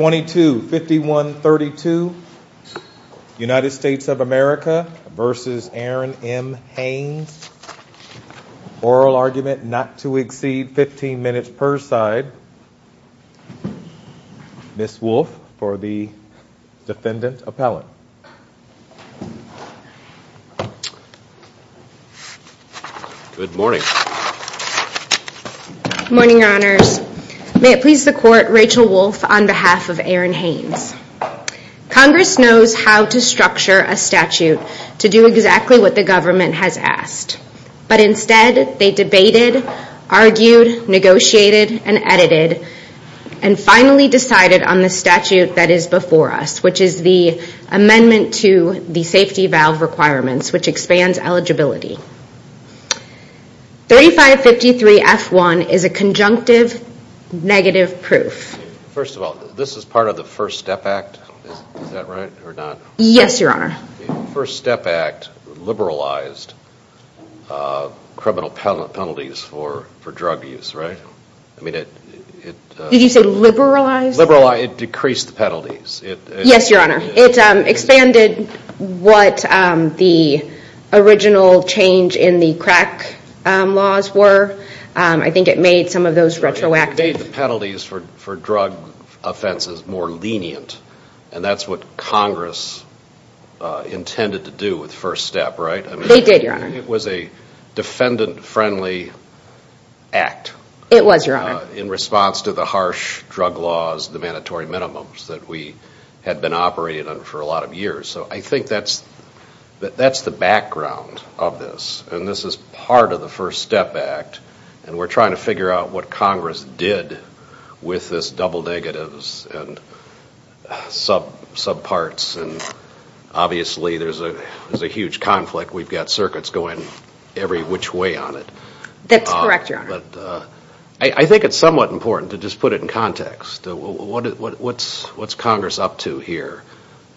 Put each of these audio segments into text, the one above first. oral argument not to exceed 15 minutes per side. Ms. Wolfe for the defendant appellant. Good morning. Good morning your honors. May it please the Congress knows how to structure a statute to do exactly what the government has asked, but instead they debated, argued, negotiated, and edited, and finally decided on the statute that is before us, which is the amendment to the safety valve requirements, which expands eligibility. 3553 F1 is a conjunctive negative proof. First of all, this is part of the First Step Act, is that right or not? Yes your honor. The First Step Act liberalized criminal penalties for drug use, right? Did you say liberalized? It decreased the penalties. Yes your honor. It expanded what the original change in the crack laws were. I think it made some of those retroactive. It made the penalties for drug offenses more lenient, and that's what Congress intended to do with First Step, right? They did your honor. It was a defendant friendly act. It was your honor. In response to the harsh drug laws, the mandatory minimums that we had been operating on for a lot of years, so I think that's the background of this, and this is part of the First Step Act, and we're trying to figure out what Congress did with this double negatives and sub parts, and obviously there's a huge conflict. We've got circuits going every which way on it. That's correct your honor. I think it's somewhat important to just put it in context. What's Congress up to here?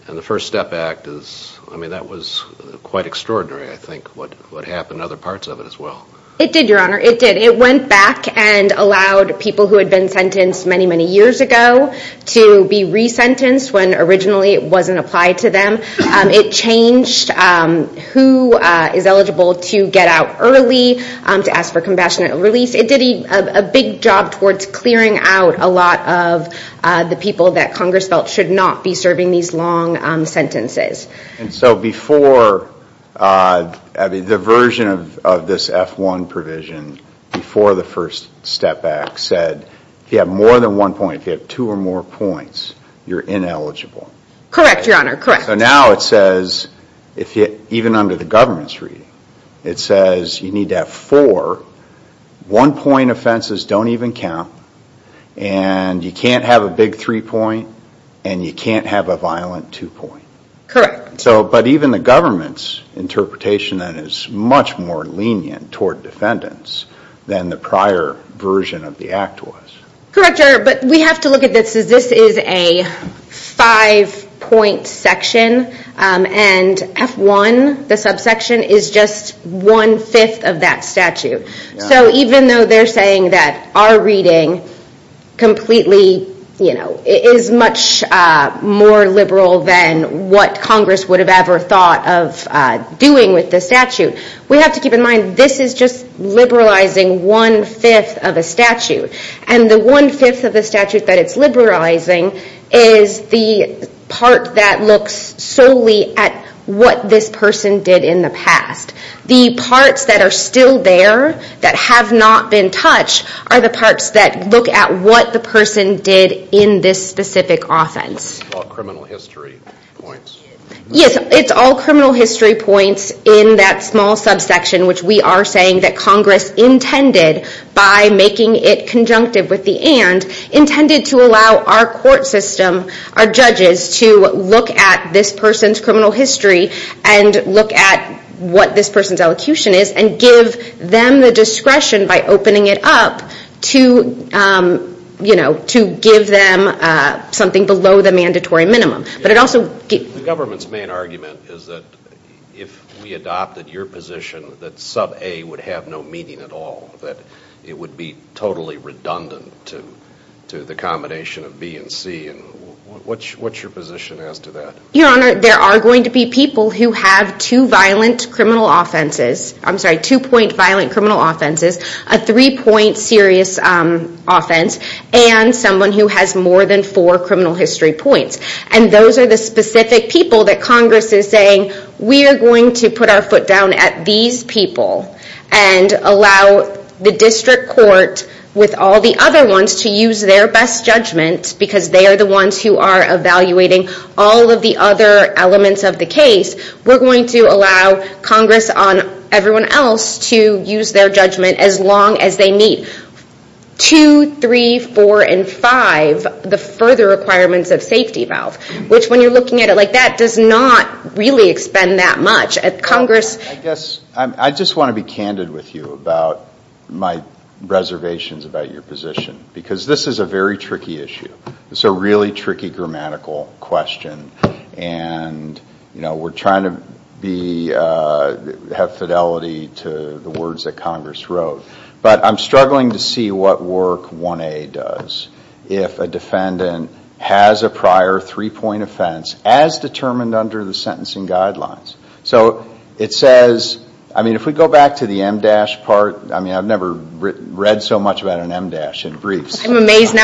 And the First Step Act is, I mean that was quite extraordinary I think what happened in other parts of it as well. It did your honor. It did. It went back and allowed people who had been sentenced many, many years ago to be resentenced when originally it wasn't applied to them. It changed who is eligible to get out early, to ask for compassionate release. It did a big job towards clearing out a lot of the people that Congress felt should not be serving these long sentences. And so before, the version of this F-1 provision before the First Step Act said if you have more than one point, if you have two or more points, you're ineligible. Correct your honor. So now it says, even under the government's reading, it says you need to have four one point offenses don't even count and you can't have a big three point and you can't have a violent two point. Correct. But even the government's interpretation is much more lenient towards defendants than the prior version of the Act was. Correct your honor. But we have to look at this as this is a five point section and F-1, the subsection, is just one fifth of that statute. So even though they're saying that our reading completely, you know, is much more liberal than what Congress would have ever thought of doing with the statute, we have to keep in mind this is just liberalizing one fifth of a statute. And the one fifth of the statute that it's liberalizing is the part that looks solely at what this person did in the past. The parts that are still there that have not been touched are the parts that look at what the person did in this specific offense. Yes, it's all criminal history points in that small subsection, which we are saying that Congress intended by making it conjunctive with the and, intended to allow our court system, our judges, to look at this person's criminal history and look at what this person's elocution is and give them the discretion by opening it up to, you know, to give them something below the minimum sentence. The government's main argument is that if we adopted your position that sub-A would have no meaning at all, that it would be totally redundant to the combination of B and C. What's your position as to that? Your Honor, there are going to be people who have two violent criminal offenses, I'm sorry, two point violent criminal offenses, a three point serious offense, and someone who has more than four criminal history points. And those are the specific people that Congress is saying, we are going to put our foot down at these people and allow the district court with all the other ones to use their best judgment because they are the ones who are evaluating all of the other elements of the case. We are going to allow Congress on everyone else to use their judgment as long as they need. Two, three, four, and five, the further requirements of safety valve, which when you are looking at it like that, does not really expend that much. I guess, I just want to be candid with you about my reservations about your position because this is a very tricky issue. It's a really tricky grammatical question and, you know, we are trying to be, have fidelity to the words that Congress wrote. But I'm struggling to see what work 1A does if a defendant has a prior three point offense as determined under the sentencing guidelines. So it says, I mean, if we go back to the MDASH part, I mean, I've never read so much about an MDASH in briefs. I love MDASH.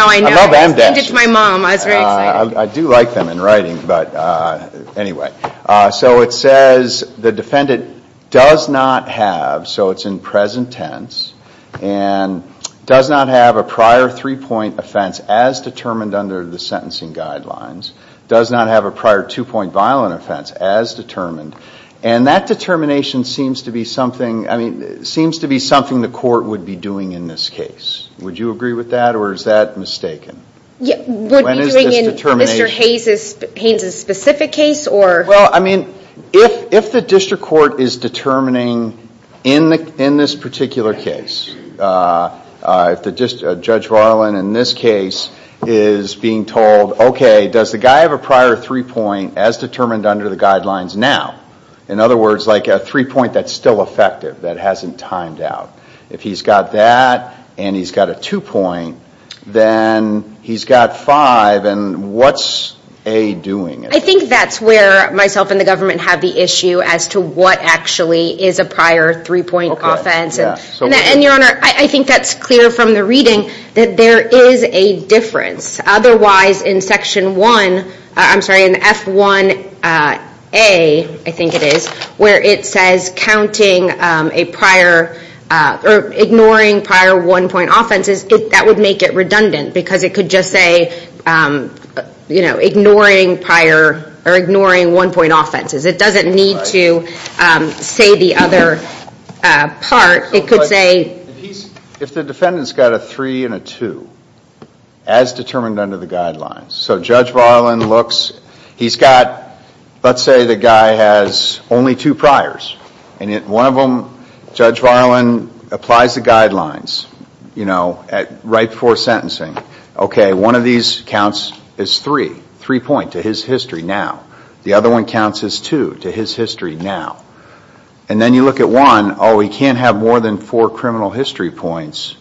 I do like them in writing, but anyway. So it says the defendant does not have, so it's in present tense, and does not have a prior three point offense as determined under the sentencing guidelines, does not have a prior two point violent offense as determined, and that determination seems to be something, I mean, seems to be something the court would be doing in this case. Would you agree with that or is that mistaken? When is this determination? Mr. Hayes' specific case or? Well, I mean, if the district court is determining in this particular case, if Judge Varlan in this case is being told, okay, does the guy have a prior three point as determined under the guidelines now? In other words, like a three point that's still effective, that hasn't timed out. If he's got that and he's got a two point, then he's got five and what's A doing? I think that's where myself and the government have the issue as to what actually is a prior three point offense. And your honor, I think that's clear from the reading that there is a difference. Otherwise, in section one, I'm sorry, in F1A, I think it is, where it says counting a prior or ignoring prior one point offenses, that would make it redundant because it could just say, you know, ignoring prior or ignoring one point offenses. It doesn't need to say the other part. It could say. If the defendant's got a three and a two as determined under the guidelines, so Judge Varlan looks, he's got, let's say the guy has only two priors. And one of them, Judge Varlan applies the guidelines, you know, right before sentencing. Okay, one of these counts as three, three point to his history now. The other one counts as two to his history now. And then you look at one, oh, he can't have more than four criminal history points.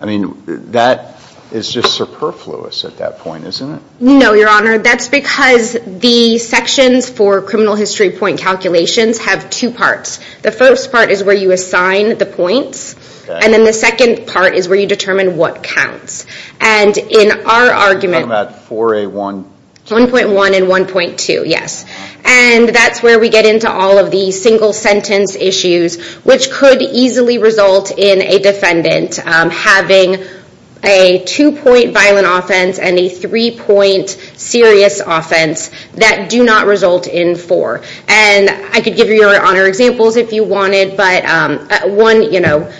I mean, that is just superfluous at that point, isn't it? No, your honor, that's because the sections for criminal history point calculations have two parts. The first part is where you assign the points. And then the second part is where you determine what counts. And in our argument. I'm talking about 4A1. 1.1 and 1.2, yes. And that's where we get into all of the single sentence issues, which could easily result in a defendant having a two point violent offense and a three point serious offense that do not result in four. And I could give you your honor examples if you wanted, but one, you know,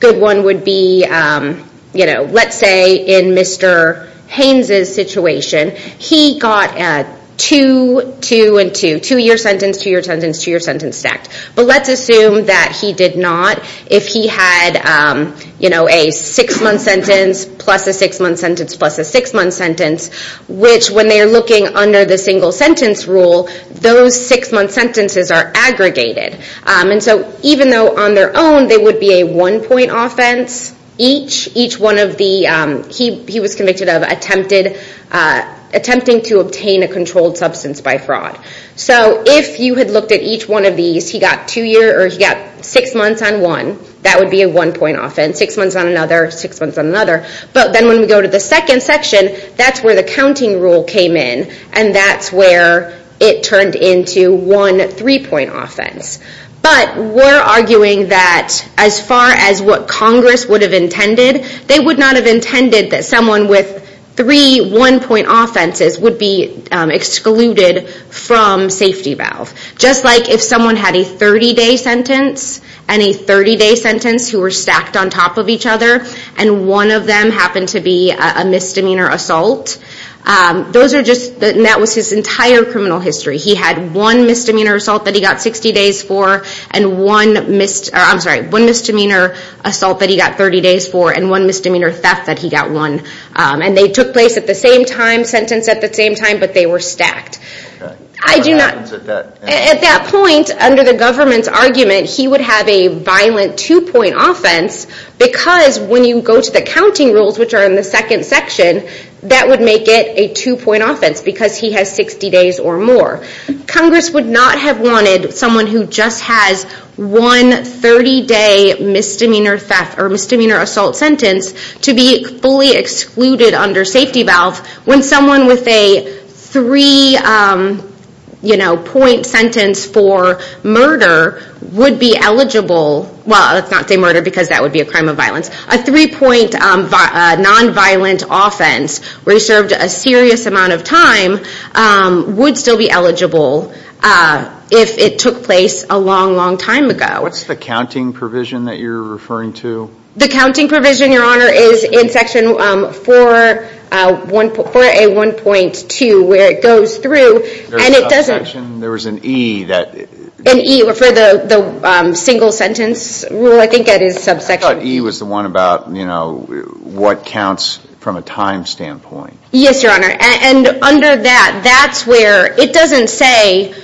good one would be, you know, let's say in Mr. Haynes' situation, he got a two, two and two, two year sentence, two year sentence, two year sentence stacked. But let's assume that he did not. If he had, you know, a six month sentence, plus a six month sentence, plus a six month sentence, which when they're looking under the single sentence rule, those six month sentences are aggregated. And so even though on their own, they would be a one point offense each, each one of the, he was convicted of attempted, attempting to obtain a controlled substance by fraud. So if you had looked at each one of these, he got two year or he got six months on one, that would be a one point offense, six months on another, six months on another. But then when we go to the second section, that's where the counting rule came in. And that's where it turned into one three point offense. But we're arguing that as far as what Congress would have intended, they would not have intended that someone with three one point offenses would be excluded from safety valve. Just like if someone had a 30 day sentence and a 30 day sentence who were stacked on top of each other, and one of them happened to be a misdemeanor assault. Those are just, that was his entire criminal history. He had one misdemeanor assault that he got 60 days for, and one misdemeanor assault that he got 30 days for, and one misdemeanor theft that he got one. And they took place at the same time, sentenced at the same time, but they were stacked. At that point, under the government's argument, he would have a violent two point offense because when you go to the counting rules, which are in the second section, that would make it a two point offense because he has 60 days or more. Congress would not have wanted someone who just has one 30 day misdemeanor theft or misdemeanor assault sentence to be fully excluded under safety valve when someone with a three point sentence for murder would be eligible. Well, let's not say murder because that would be a crime of violence. A three point nonviolent offense where he served a serious amount of time would still be eligible if it took place a long, long time ago. What's the counting provision that you're referring to? The counting provision, your honor, is in section 4A1.2 where it goes through and it doesn't... There's a subsection, there was an E that... An E for the single sentence rule, I think that is subsection... I thought E was the one about, you know, what counts from a time standpoint. Yes, your honor. And under that, that's where it doesn't say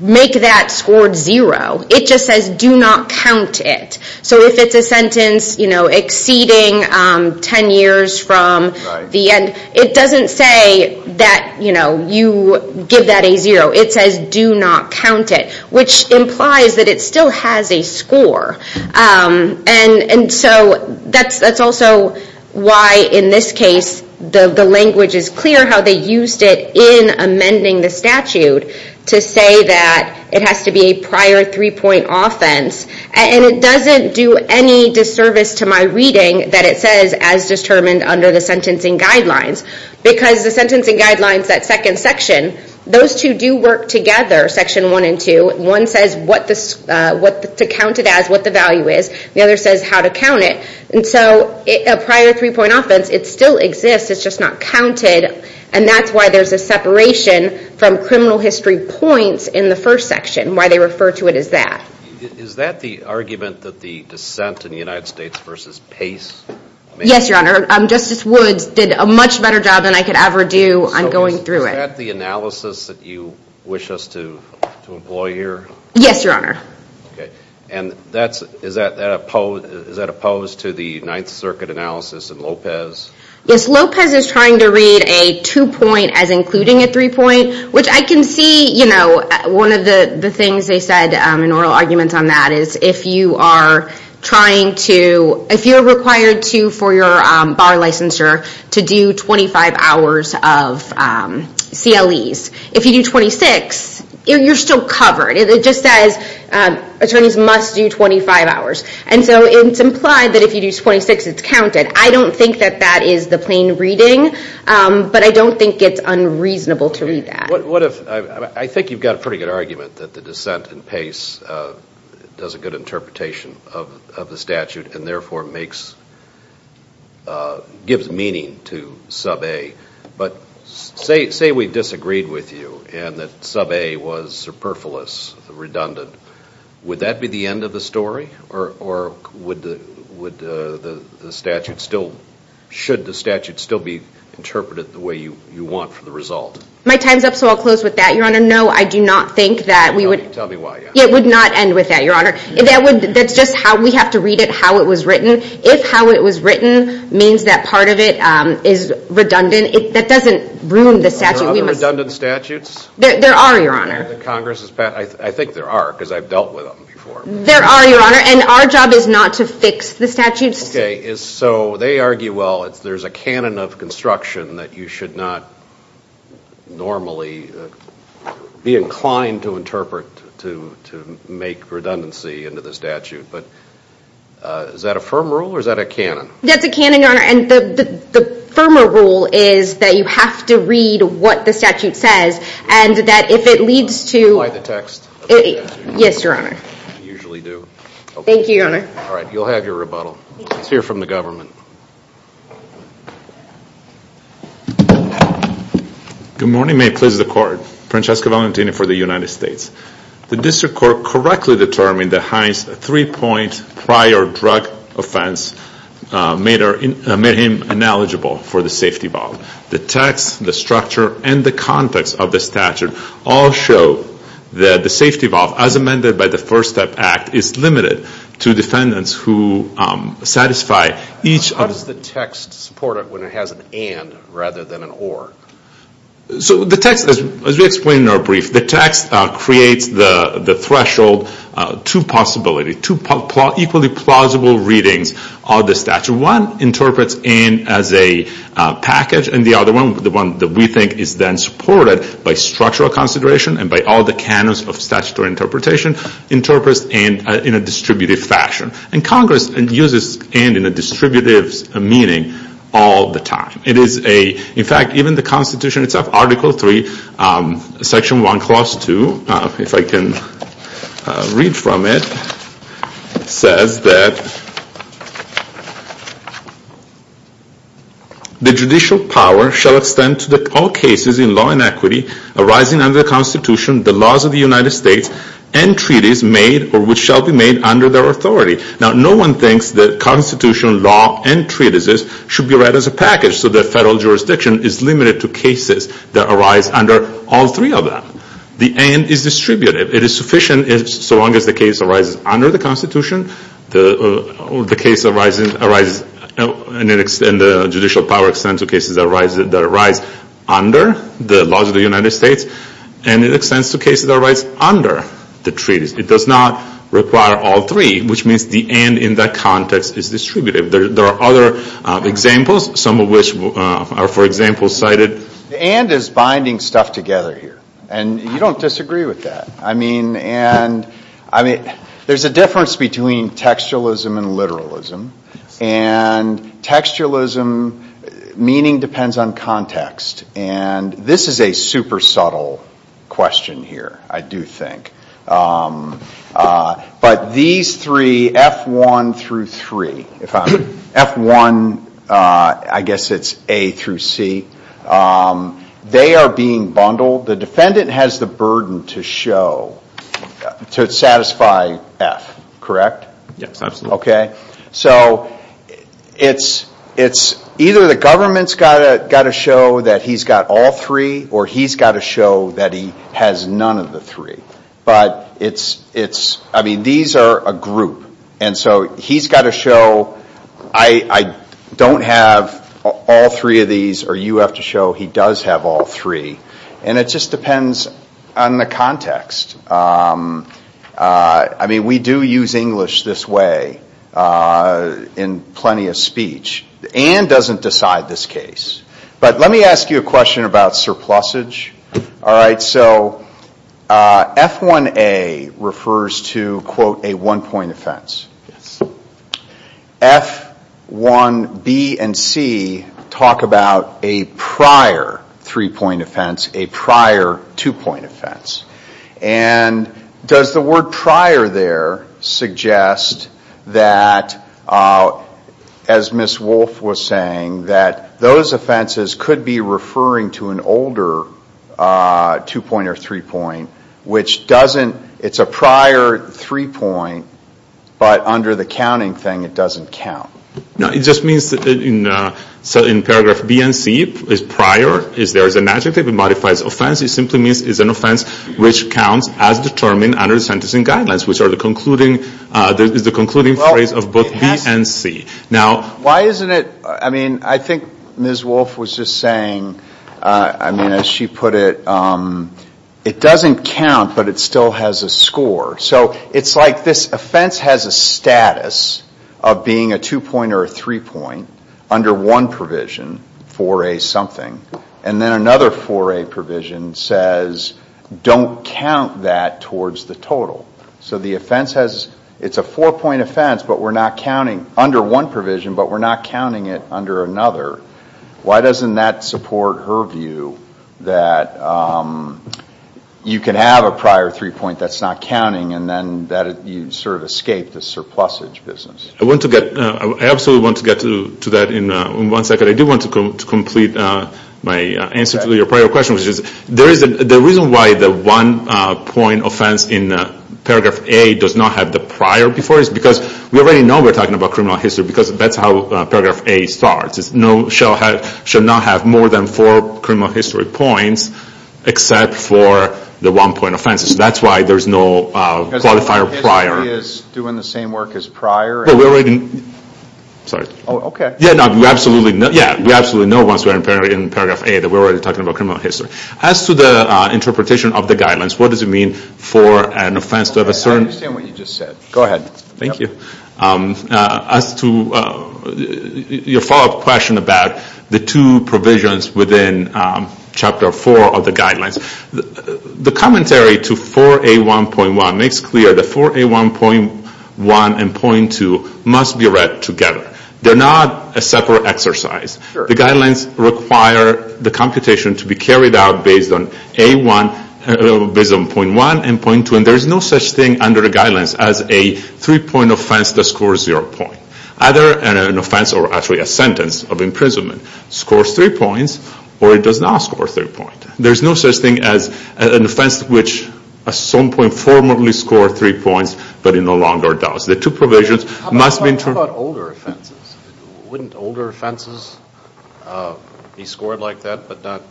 make that scored zero, it just says do not count it. So if it's a sentence, you know, exceeding 10 years from the end, it doesn't say that, you know, you give that a zero, it says do not count it, which implies that it still has a score. And so that's also why in this case the language is clear how they used it in amending the statute to say that it has to be a prior three point offense. And it doesn't do any disservice to my reading that it says as determined under the sentencing guidelines. Because the sentencing guidelines, that second section, those two do work together, section 1 and 2. One says what to count it as, what the value is, the other says how to count it. And so a prior three point offense, it still exists, it's just not counted. And that's why there's a separation from criminal history points in the first section, why they refer to it as that. Is that the argument that the dissent in the United States versus Pace made? Yes, your honor. Justice Woods did a much better job than I could ever do on going through it. Is that the analysis that you wish us to employ here? Yes, your honor. And is that opposed to the Ninth Circuit analysis in Lopez? Yes, Lopez is trying to read a two point as including a three point, which I can see, you know, one of the things they said in oral arguments on that is if you are trying to, if you're required to for your bar licensure to do 25 hours of CLEs, if you do 26, you're still covered. It just says attorneys must do 25 hours. And so it's implied that if you do 26, it's counted. I don't think that that is the plain reading, but I don't think it's unreasonable to read that. What if, I think you've got a pretty good argument that the dissent in Pace does a good interpretation of the statute and therefore makes, gives meaning to Sub A. But say we disagreed with you and that Sub A was superfluous, redundant. Would that be the end of the story or would the statute still, should the statute still be interpreted the way you want for the result? My time's up, so I'll close with that, Your Honor. No, I do not think that we would. Tell me why. It would not end with that, Your Honor. That's just how we have to read it, how it was written. If how it was written means that part of it is redundant, that doesn't ruin the statute. Are there other redundant statutes? There are, Your Honor. I think there are because I've dealt with them before. There are, Your Honor, and our job is not to fix the statutes. Okay, so they argue, well, there's a canon of construction that you should not normally be inclined to interpret to make redundancy into the statute. But is that a firm rule or is that a canon? That's a canon, Your Honor, and the firmer rule is that you have to read what the statute says and that if it leads to Do you like the text of the statute? Yes, Your Honor. I usually do. Thank you, Your Honor. All right, you'll have your rebuttal. Let's hear from the government. Good morning. May it please the Court. Francesco Valentini for the United States. The district court correctly determined that Hines' three-point prior drug offense made him ineligible for the safety valve. The text, the structure, and the context of the statute all show that the safety valve, as amended by the First Step Act, is limited to defendants who satisfy each of the How does the text support it when it has an and rather than an or? So the text, as we explained in our brief, the text creates the threshold to possibility, to equally plausible readings of the statute. One interprets and as a package and the other one, the one that we think is then supported by structural consideration and by all the canons of statutory interpretation, interprets and in a distributive fashion. And Congress uses and in a distributive meaning all the time. It is a, in fact, even the Constitution itself, Article 3, Section 1, Clause 2, if I can read from it, says that the judicial power shall extend to all cases in law and equity arising under the Constitution, the laws of the United States, and treaties made or which shall be made under their authority. Now, no one thinks that Constitution, law, and treatises should be read as a package. So the federal jurisdiction is limited to cases that arise under all three of them. The and is distributive. It is sufficient so long as the case arises under the Constitution, the case arises, and the judicial power extends to cases that arise under the laws of the United States, and it extends to cases that arise under the treaties. It does not require all three, which means the and in that context is distributive. There are other examples, some of which are, for example, cited. The and is binding stuff together here, and you don't disagree with that. I mean, and, I mean, there's a difference between textualism and literalism, and textualism, meaning depends on context, and this is a super subtle question here, I do think. But these three, F1 through 3, F1, I guess it's A through C, they are being bundled. The defendant has the burden to show, to satisfy F, correct? Yes, absolutely. Okay, so it's either the government's got to show that he's got all three, or he's got to show that he has none of the three. But it's, I mean, these are a group, and so he's got to show I don't have all three of these, or you have to show he does have all three, and it just depends on the context. I mean, we do use English this way in plenty of speech. And doesn't decide this case. But let me ask you a question about surplusage. All right, so F1A refers to, quote, a one-point offense. F1B and C talk about a prior three-point offense, a prior two-point offense. And does the word prior there suggest that, as Ms. Wolfe was saying, that those offenses could be referring to an older two-point or three-point, which doesn't, it's a prior three-point, but under the counting thing, it doesn't count. No, it just means in paragraph B and C, it's prior, there's an adjective, it modifies offense. It simply means it's an offense which counts as determined under the sentencing guidelines, which is the concluding phrase of both B and C. Now, why isn't it, I mean, I think Ms. Wolfe was just saying, I mean, as she put it, it doesn't count, but it still has a score. So it's like this offense has a status of being a two-point or a three-point under one provision, 4A something. And then another 4A provision says, don't count that towards the total. So the offense has, it's a four-point offense, but we're not counting, under one provision, but we're not counting it under another. Why doesn't that support her view that you can have a prior three-point that's not counting and then that you sort of escape the surplusage business? I want to get, I absolutely want to get to that in one second. I do want to complete my answer to your prior question, which is, the reason why the one-point offense in paragraph A does not have the prior before it is because we already know we're talking about criminal history because that's how paragraph A starts. It should not have more than four criminal history points except for the one-point offense. So that's why there's no qualifier prior. Everybody is doing the same work as prior? Well, we're already, sorry. Oh, okay. Yeah, no, we absolutely know once we're in paragraph A that we're already talking about criminal history. As to the interpretation of the guidelines, what does it mean for an offense to have a certain I understand what you just said. Go ahead. Thank you. As to your follow-up question about the two provisions within Chapter 4 of the guidelines, the commentary to 4A1.1 makes clear that 4A1.1 and .2 must be read together. They're not a separate exercise. Sure. The guidelines require the computation to be carried out based on .1 and .2, and there's no such thing under the guidelines as a three-point offense that scores zero points. Either an offense or actually a sentence of imprisonment scores three points, or it does not score three points. There's no such thing as an offense which at some point formally scored three points, but it no longer does. How about older offenses? Wouldn't older offenses be scored like that, but not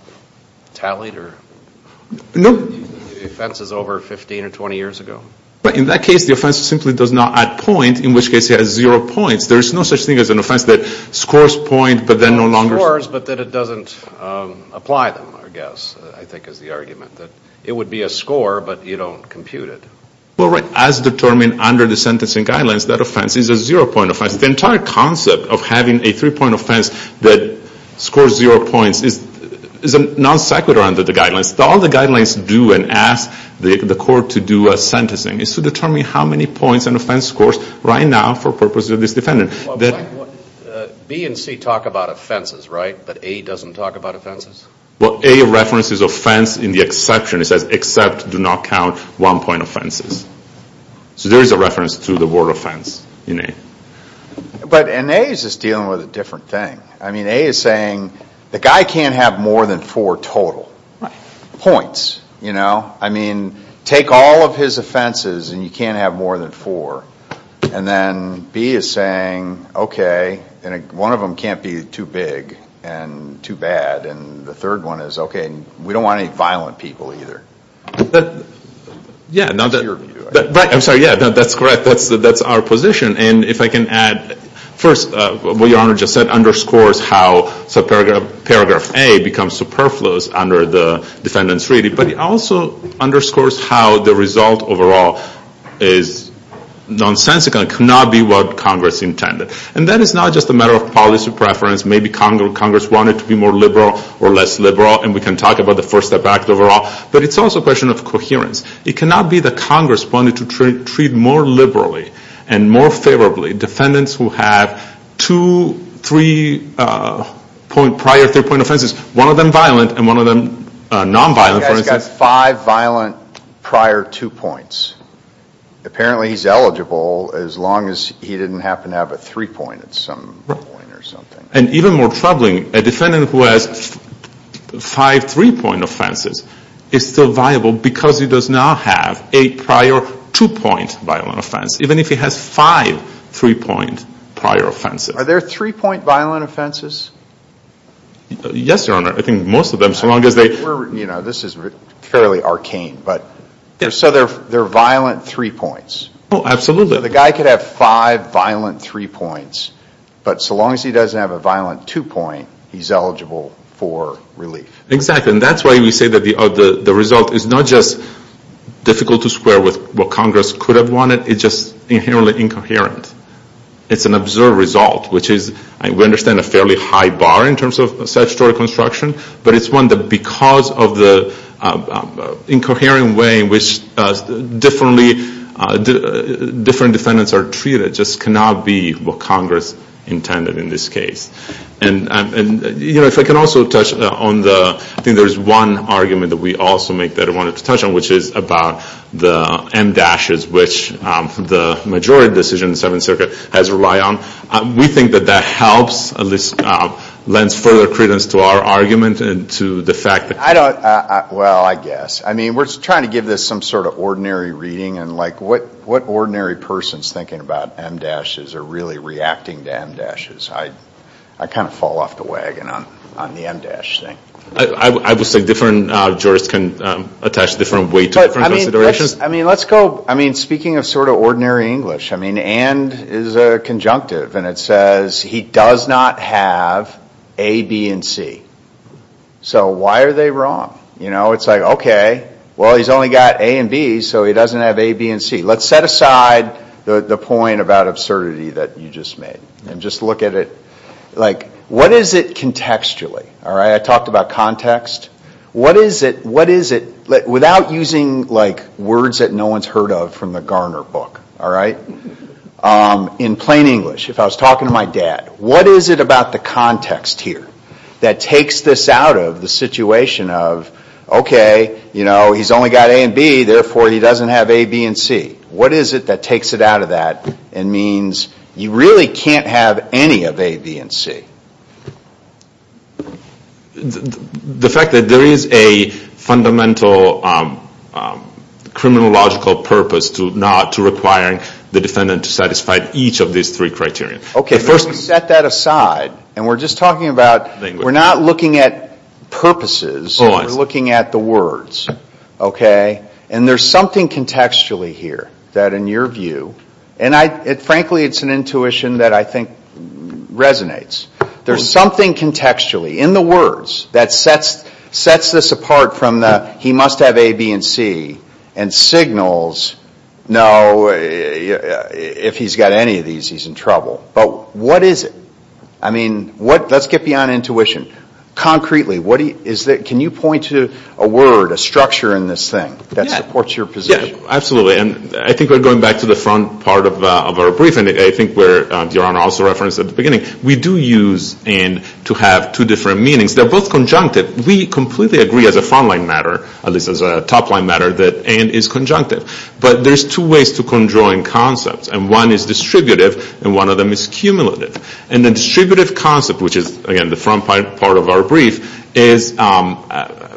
tallied or offenses over 15 or 20 years ago? In that case, the offense simply does not add points, in which case it has zero points. There's no such thing as an offense that scores points, but then no longer scores. It scores, but then it doesn't apply them, I guess, I think is the argument. It would be a score, but you don't compute it. Well, right. As determined under the sentencing guidelines, that offense is a zero-point offense. The entire concept of having a three-point offense that scores zero points is non-sequitur under the guidelines. All the guidelines do and ask the court to do a sentencing is to determine how many points an offense scores right now for purposes of this defendant. B and C talk about offenses, right? But A doesn't talk about offenses? Well, A references offense in the exception. It says, except do not count one-point offenses. So there is a reference to the word offense in A. But in A, it's just dealing with a different thing. I mean, A is saying the guy can't have more than four total points. I mean, take all of his offenses and you can't have more than four. And then B is saying, okay, one of them can't be too big and too bad. And the third one is, okay, we don't want any violent people either. I'm sorry. Yeah, that's correct. That's our position. And if I can add, first, what Your Honor just said underscores how paragraph A becomes superfluous under the defendant's reading. But it also underscores how the result overall is nonsensical. It cannot be what Congress intended. And that is not just a matter of policy preference. Maybe Congress wanted to be more liberal or less liberal, and we can talk about the First Step Act overall. But it's also a question of coherence. It cannot be that Congress wanted to treat more liberally and more favorably defendants who have two, three prior three-point offenses, one of them violent and one of them nonviolent. This guy's got five violent prior two points. Apparently he's eligible as long as he didn't happen to have a three-point at some point or something. And even more troubling, a defendant who has five three-point offenses is still viable because he does not have a prior two-point violent offense. Even if he has five three-point prior offenses. Are there three-point violent offenses? Yes, Your Honor. I think most of them, so long as they – You know, this is fairly arcane. So there are violent three points. Oh, absolutely. The guy could have five violent three points, but so long as he doesn't have a violent two-point, he's eligible for relief. Exactly. And that's why we say that the result is not just difficult to square with what Congress could have wanted. It's just inherently incoherent. It's an absurd result, which is – we understand a fairly high bar in terms of statutory construction, but it's one that because of the incoherent way in which different defendants are treated, just cannot be what Congress intended in this case. And, you know, if I can also touch on the – I think there's one argument that we also make that I wanted to touch on, which is about the M-dashes, which the majority decision in the Seventh Circuit has relied on. We think that that helps, at least lends further credence to our argument and to the fact that – I don't – well, I guess. I mean, we're trying to give this some sort of ordinary reading, and, like, what ordinary person is thinking about M-dashes or really reacting to M-dashes? I kind of fall off the wagon on the M-dash thing. I would say different jurors can attach different weight to different considerations. I mean, let's go – I mean, speaking of sort of ordinary English, I mean, and is a conjunctive, and it says he does not have A, B, and C. So why are they wrong? You know, it's like, okay, well, he's only got A and B, so he doesn't have A, B, and C. Let's set aside the point about absurdity that you just made and just look at it. Like, what is it contextually? All right, I talked about context. What is it – without using, like, words that no one's heard of from the Garner book, all right? In plain English, if I was talking to my dad, what is it about the context here that takes this out of the situation of, okay, you know, he's only got A and B, therefore he doesn't have A, B, and C? What is it that takes it out of that and means you really can't have any of A, B, and C? The fact that there is a fundamental criminological purpose to not – to requiring the defendant to satisfy each of these three criteria. Okay, first we set that aside, and we're just talking about – We're not looking at purposes. Oh, I see. We're looking at the words, okay? And there's something contextually here that in your view – and frankly, it's an intuition that I think resonates. There's something contextually in the words that sets this apart from the he must have A, B, and C and signals, no, if he's got any of these, he's in trouble. But what is it? I mean, let's get beyond intuition. Concretely, can you point to a word, a structure in this thing that supports your position? Yeah, absolutely. And I think we're going back to the front part of our briefing. I think where Your Honor also referenced at the beginning, we do use and to have two different meanings. They're both conjunctive. We completely agree as a front-line matter, at least as a top-line matter, that and is conjunctive. But there's two ways to conjoin concepts. And one is distributive, and one of them is cumulative. And the distributive concept, which is, again, the front part of our brief, is a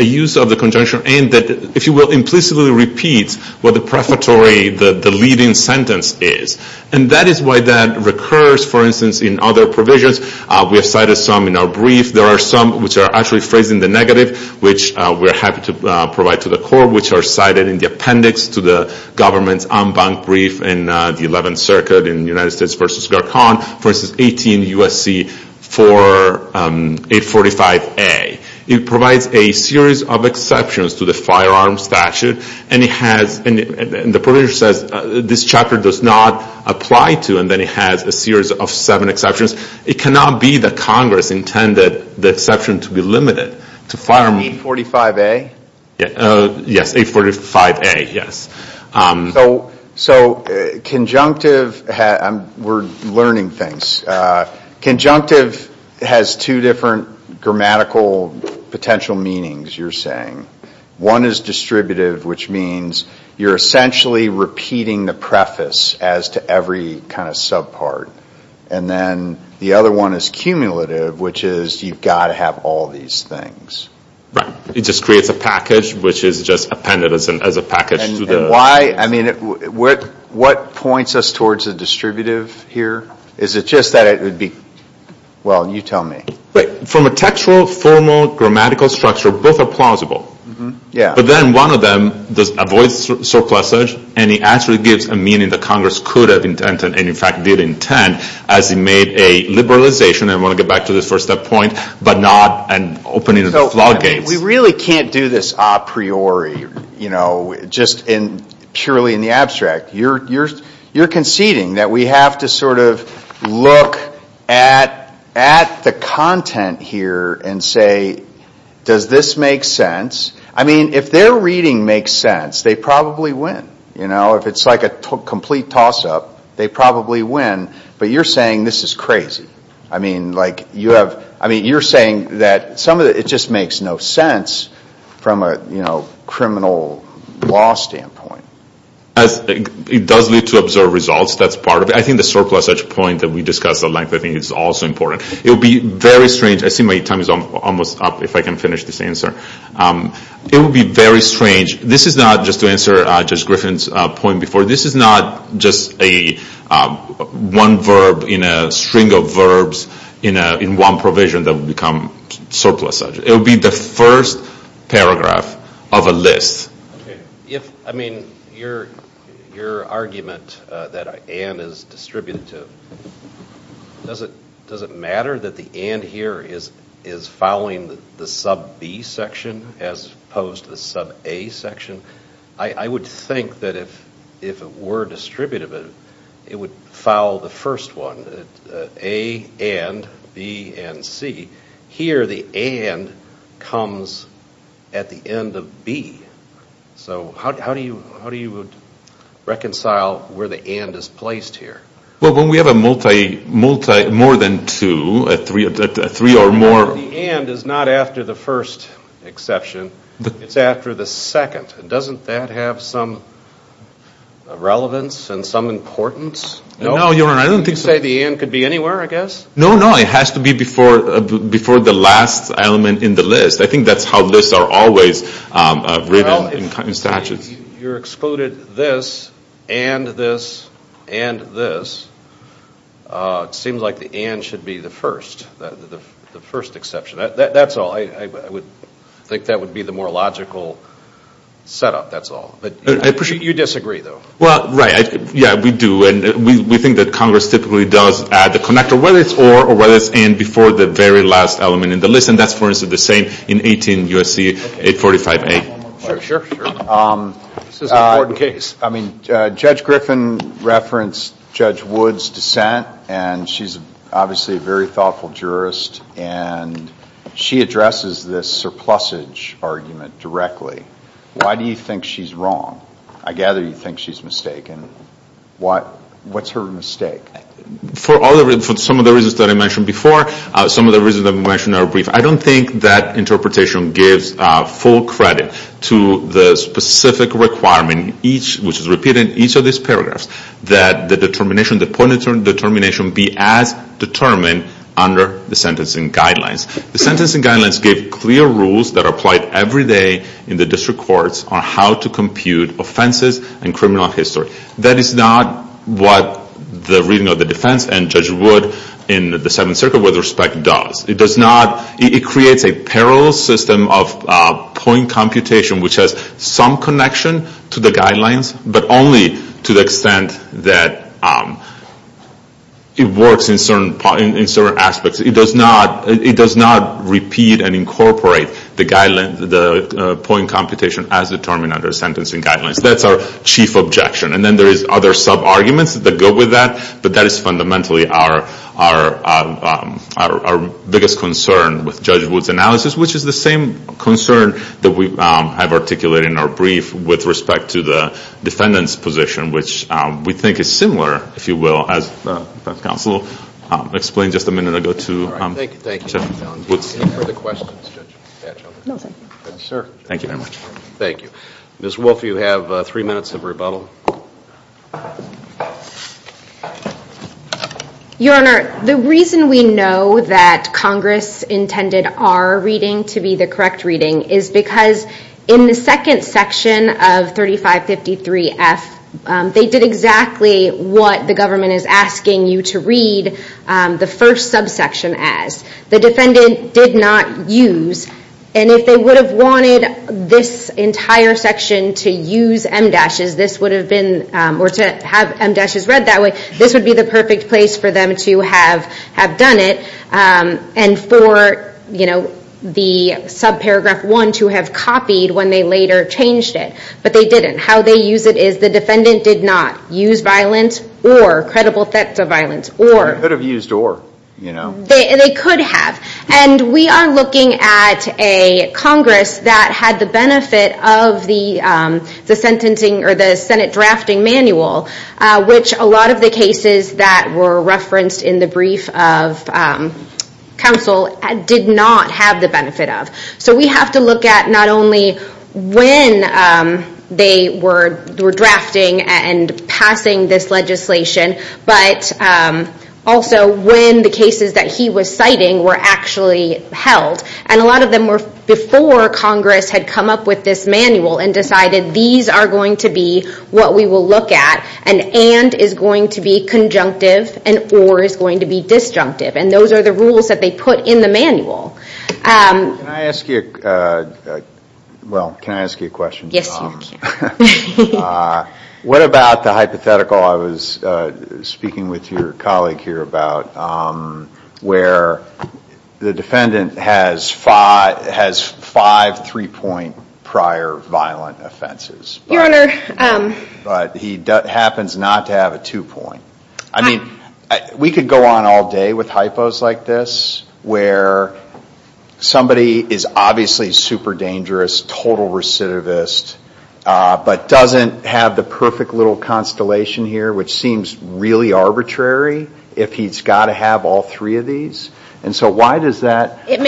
use of the conjunction and that, if you will, implicitly repeats what the prefatory, the leading sentence is. And that is why that recurs, for instance, in other provisions. We have cited some in our brief. There are some which are actually phrased in the negative, which we're happy to provide to the Court, which are cited in the appendix to the government's unbanked brief in the 11th Circuit in United States v. Garcon v. 18 U.S.C. for 845A. It provides a series of exceptions to the firearms statute, and the provision says this chapter does not apply to, and then it has a series of seven exceptions. It cannot be that Congress intended the exception to be limited to firearms. 845A? Yes, 845A, yes. So conjunctive, we're learning things. Conjunctive has two different grammatical potential meanings, you're saying. One is distributive, which means you're essentially repeating the preface as to every kind of subpart. And then the other one is cumulative, which is you've got to have all these things. Right. It just creates a package, which is just appended as a package. And why, I mean, what points us towards the distributive here? Is it just that it would be, well, you tell me. Right. From a textual, formal, grammatical structure, both are plausible. Yeah. But then one of them avoids surplusage, and it actually gives a meaning that Congress could have intended, and in fact did intend, as it made a liberalization, and I want to get back to this first step point, but not an opening of the floodgates. We really can't do this a priori, you know, just purely in the abstract. You're conceding that we have to sort of look at the content here and say, does this make sense? I mean, if their reading makes sense, they probably win. You know, if it's like a complete toss-up, they probably win. But you're saying this is crazy. I mean, you're saying that some of it just makes no sense from a criminal law standpoint. It does lead to absurd results. That's part of it. I think the surplusage point that we discussed at length, I think, is also important. It would be very strange. I see my time is almost up, if I can finish this answer. It would be very strange. This is not, just to answer Judge Griffin's point before, this is not just one verb in a string of verbs in one provision that would become surplusage. It would be the first paragraph of a list. Okay. I mean, your argument that and is distributive, does it matter that the and here is following the sub-b section as opposed to the sub-a section? I would think that if it were distributive, it would foul the first one, a, and, b, and, c. Here the and comes at the end of b. So how do you reconcile where the and is placed here? Well, when we have a multi, more than two, three or more. The and is not after the first exception. It's after the second. Doesn't that have some relevance and some importance? No, Your Honor. I don't think so. You say the and could be anywhere, I guess? No, no. It has to be before the last element in the list. I think that's how lists are always written in statutes. You excluded this, and this, and this. It seems like the and should be the first, the first exception. That's all. I would think that would be the more logical setup, that's all. You disagree, though. Well, right. Yeah, we do. And we think that Congress typically does add the connector, whether it's or, or whether it's and before the very last element in the list. And that's, for instance, the same in 18 U.S.C. 845a. Sure, sure, sure. This is an important case. I mean, Judge Griffin referenced Judge Wood's dissent, and she's obviously a very thoughtful jurist. And she addresses this surplusage argument directly. Why do you think she's wrong? I gather you think she's mistaken. What's her mistake? For some of the reasons that I mentioned before, some of the reasons that we mentioned are brief. I don't think that interpretation gives full credit to the specific requirement, which is repeated in each of these paragraphs, that the determination, the point determination be as determined under the sentencing guidelines. The sentencing guidelines give clear rules that are applied every day in the district courts on how to compute offenses and criminal history. That is not what the reading of the defense and Judge Wood in the Seventh Circuit, with respect, does. It does not. It creates a parallel system of point computation, which has some connection to the guidelines, but only to the extent that it works in certain aspects. It does not repeat and incorporate the point computation as determined under sentencing guidelines. That's our chief objection. And then there is other sub-arguments that go with that, but that is fundamentally our biggest concern with Judge Wood's analysis, which is the same concern that we have articulated in our brief with respect to the defendant's position, which we think is similar, if you will, as the defense counsel explained just a minute ago to Judge Wood. Thank you very much. Thank you. Ms. Wolfe, you have three minutes of rebuttal. Your Honor, the reason we know that Congress intended our reading to be the correct reading is because in the second section of 3553F, they did exactly what the government is asking you to read the first subsection as. The defendant did not use, and if they would have wanted this entire section to use em dashes, this would have been, or to have em dashes read that way, this would be the perfect place for them to have done it. And for the subparagraph one to have copied when they later changed it. But they didn't. How they use it is the defendant did not use violence or credible theft of violence. Or could have used or. They could have. And we are looking at a Congress that had the benefit of the Senate drafting manual, which a lot of the cases that were referenced in the brief of counsel did not have the benefit of. So we have to look at not only when they were drafting and passing this legislation, but also when the cases that he was citing were actually held. And a lot of them were before Congress had come up with this manual and decided these are going to be what we will look at and and is going to be conjunctive and or is going to be disjunctive. And those are the rules that they put in the manual. Can I ask you a question? Yes, you can. What about the hypothetical I was speaking with your colleague here about where the defendant has five three-point prior violent offenses. Your Honor. But he happens not to have a two-point. I mean, we could go on all day with hypos like this, where somebody is obviously super dangerous, total recidivist, but doesn't have the perfect little constellation here, which seems really arbitrary if he's got to have all three of these. And so why does that make any sense? It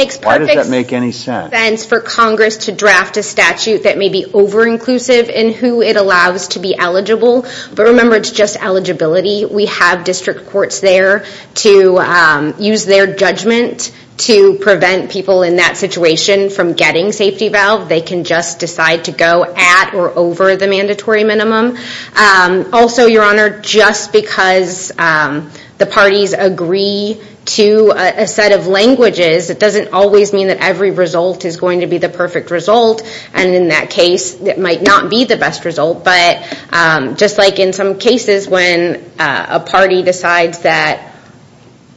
makes perfect sense for Congress to draft a statute that may be over-inclusive in who it allows to be eligible. But remember, it's just eligibility. We have district courts there to use their judgment to prevent people in that situation from getting safety valve. They can just decide to go at or over the mandatory minimum. Also, Your Honor, just because the parties agree to a set of languages, it doesn't always mean that every result is going to be the perfect result. And in that case, it might not be the best result. But just like in some cases when a party decides that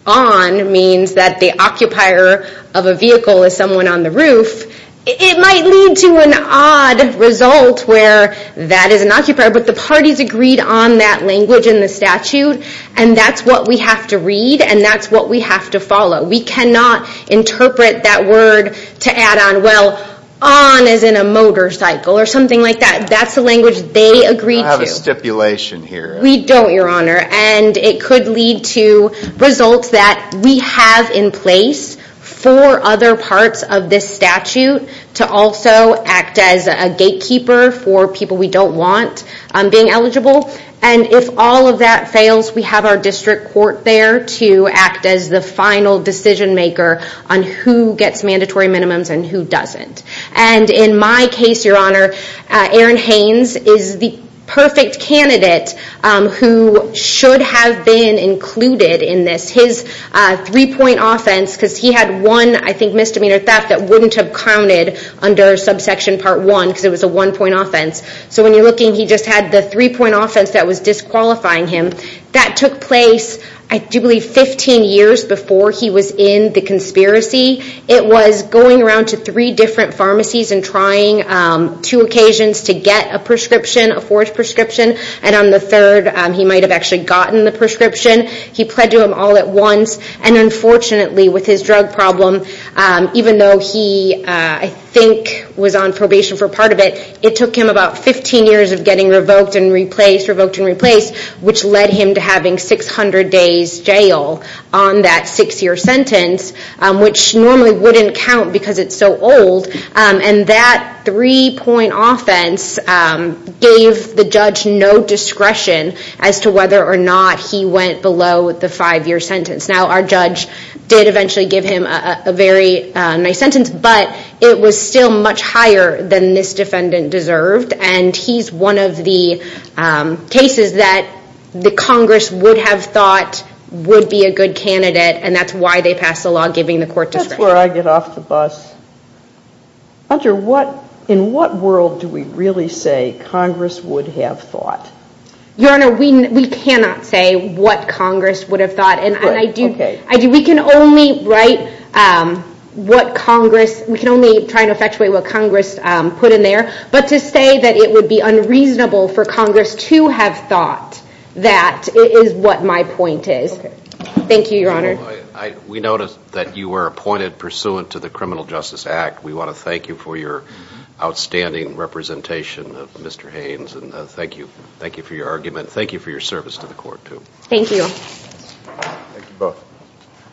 on means that the occupier of a vehicle is someone on the roof, it might lead to an odd result where that is an occupier but the parties agreed on that language in the statute and that's what we have to read and that's what we have to follow. We cannot interpret that word to add on, well, on as in a motorcycle or something like that. That's the language they agreed to. I have a stipulation here. We don't, Your Honor. And it could lead to results that we have in place for other parts of this statute to also act as a gatekeeper for people we don't want being eligible. And if all of that fails, we have our district court there to act as the final decision maker on who gets mandatory minimums and who doesn't. And in my case, Your Honor, Aaron Haynes is the perfect candidate who should have been included in this. His three-point offense, because he had one, I think, misdemeanor theft that wouldn't have counted under subsection part one because it was a one-point offense. So when you're looking, he just had the three-point offense that was disqualifying him. That took place, I do believe, 15 years before he was in the conspiracy. It was going around to three different pharmacies and trying two occasions to get a prescription, a forged prescription, and on the third, he might have actually gotten the prescription. He pled to them all at once, and unfortunately, with his drug problem, even though he, I think, was on probation for part of it, it took him about 15 years of getting revoked and replaced, revoked and replaced, which led him to having 600 days jail on that six-year sentence, which normally wouldn't count because it's so old. And that three-point offense gave the judge no discretion as to whether or not he went below the five-year sentence. Now, our judge did eventually give him a very nice sentence, but it was still much higher than this defendant deserved, and he's one of the cases that the Congress would have thought would be a good candidate, and that's why they passed the law giving the court discretion. That's where I get off the bus. Hunter, in what world do we really say Congress would have thought? Your Honor, we cannot say what Congress would have thought, and we can only write what Congress put in there, but to say that it would be unreasonable for Congress to have thought that is what my point is. Thank you, Your Honor. We notice that you were appointed pursuant to the Criminal Justice Act. We want to thank you for your outstanding representation, Mr. Haynes, and thank you for your argument. Thank you for your service to the court, too. Thank you. Thank you both.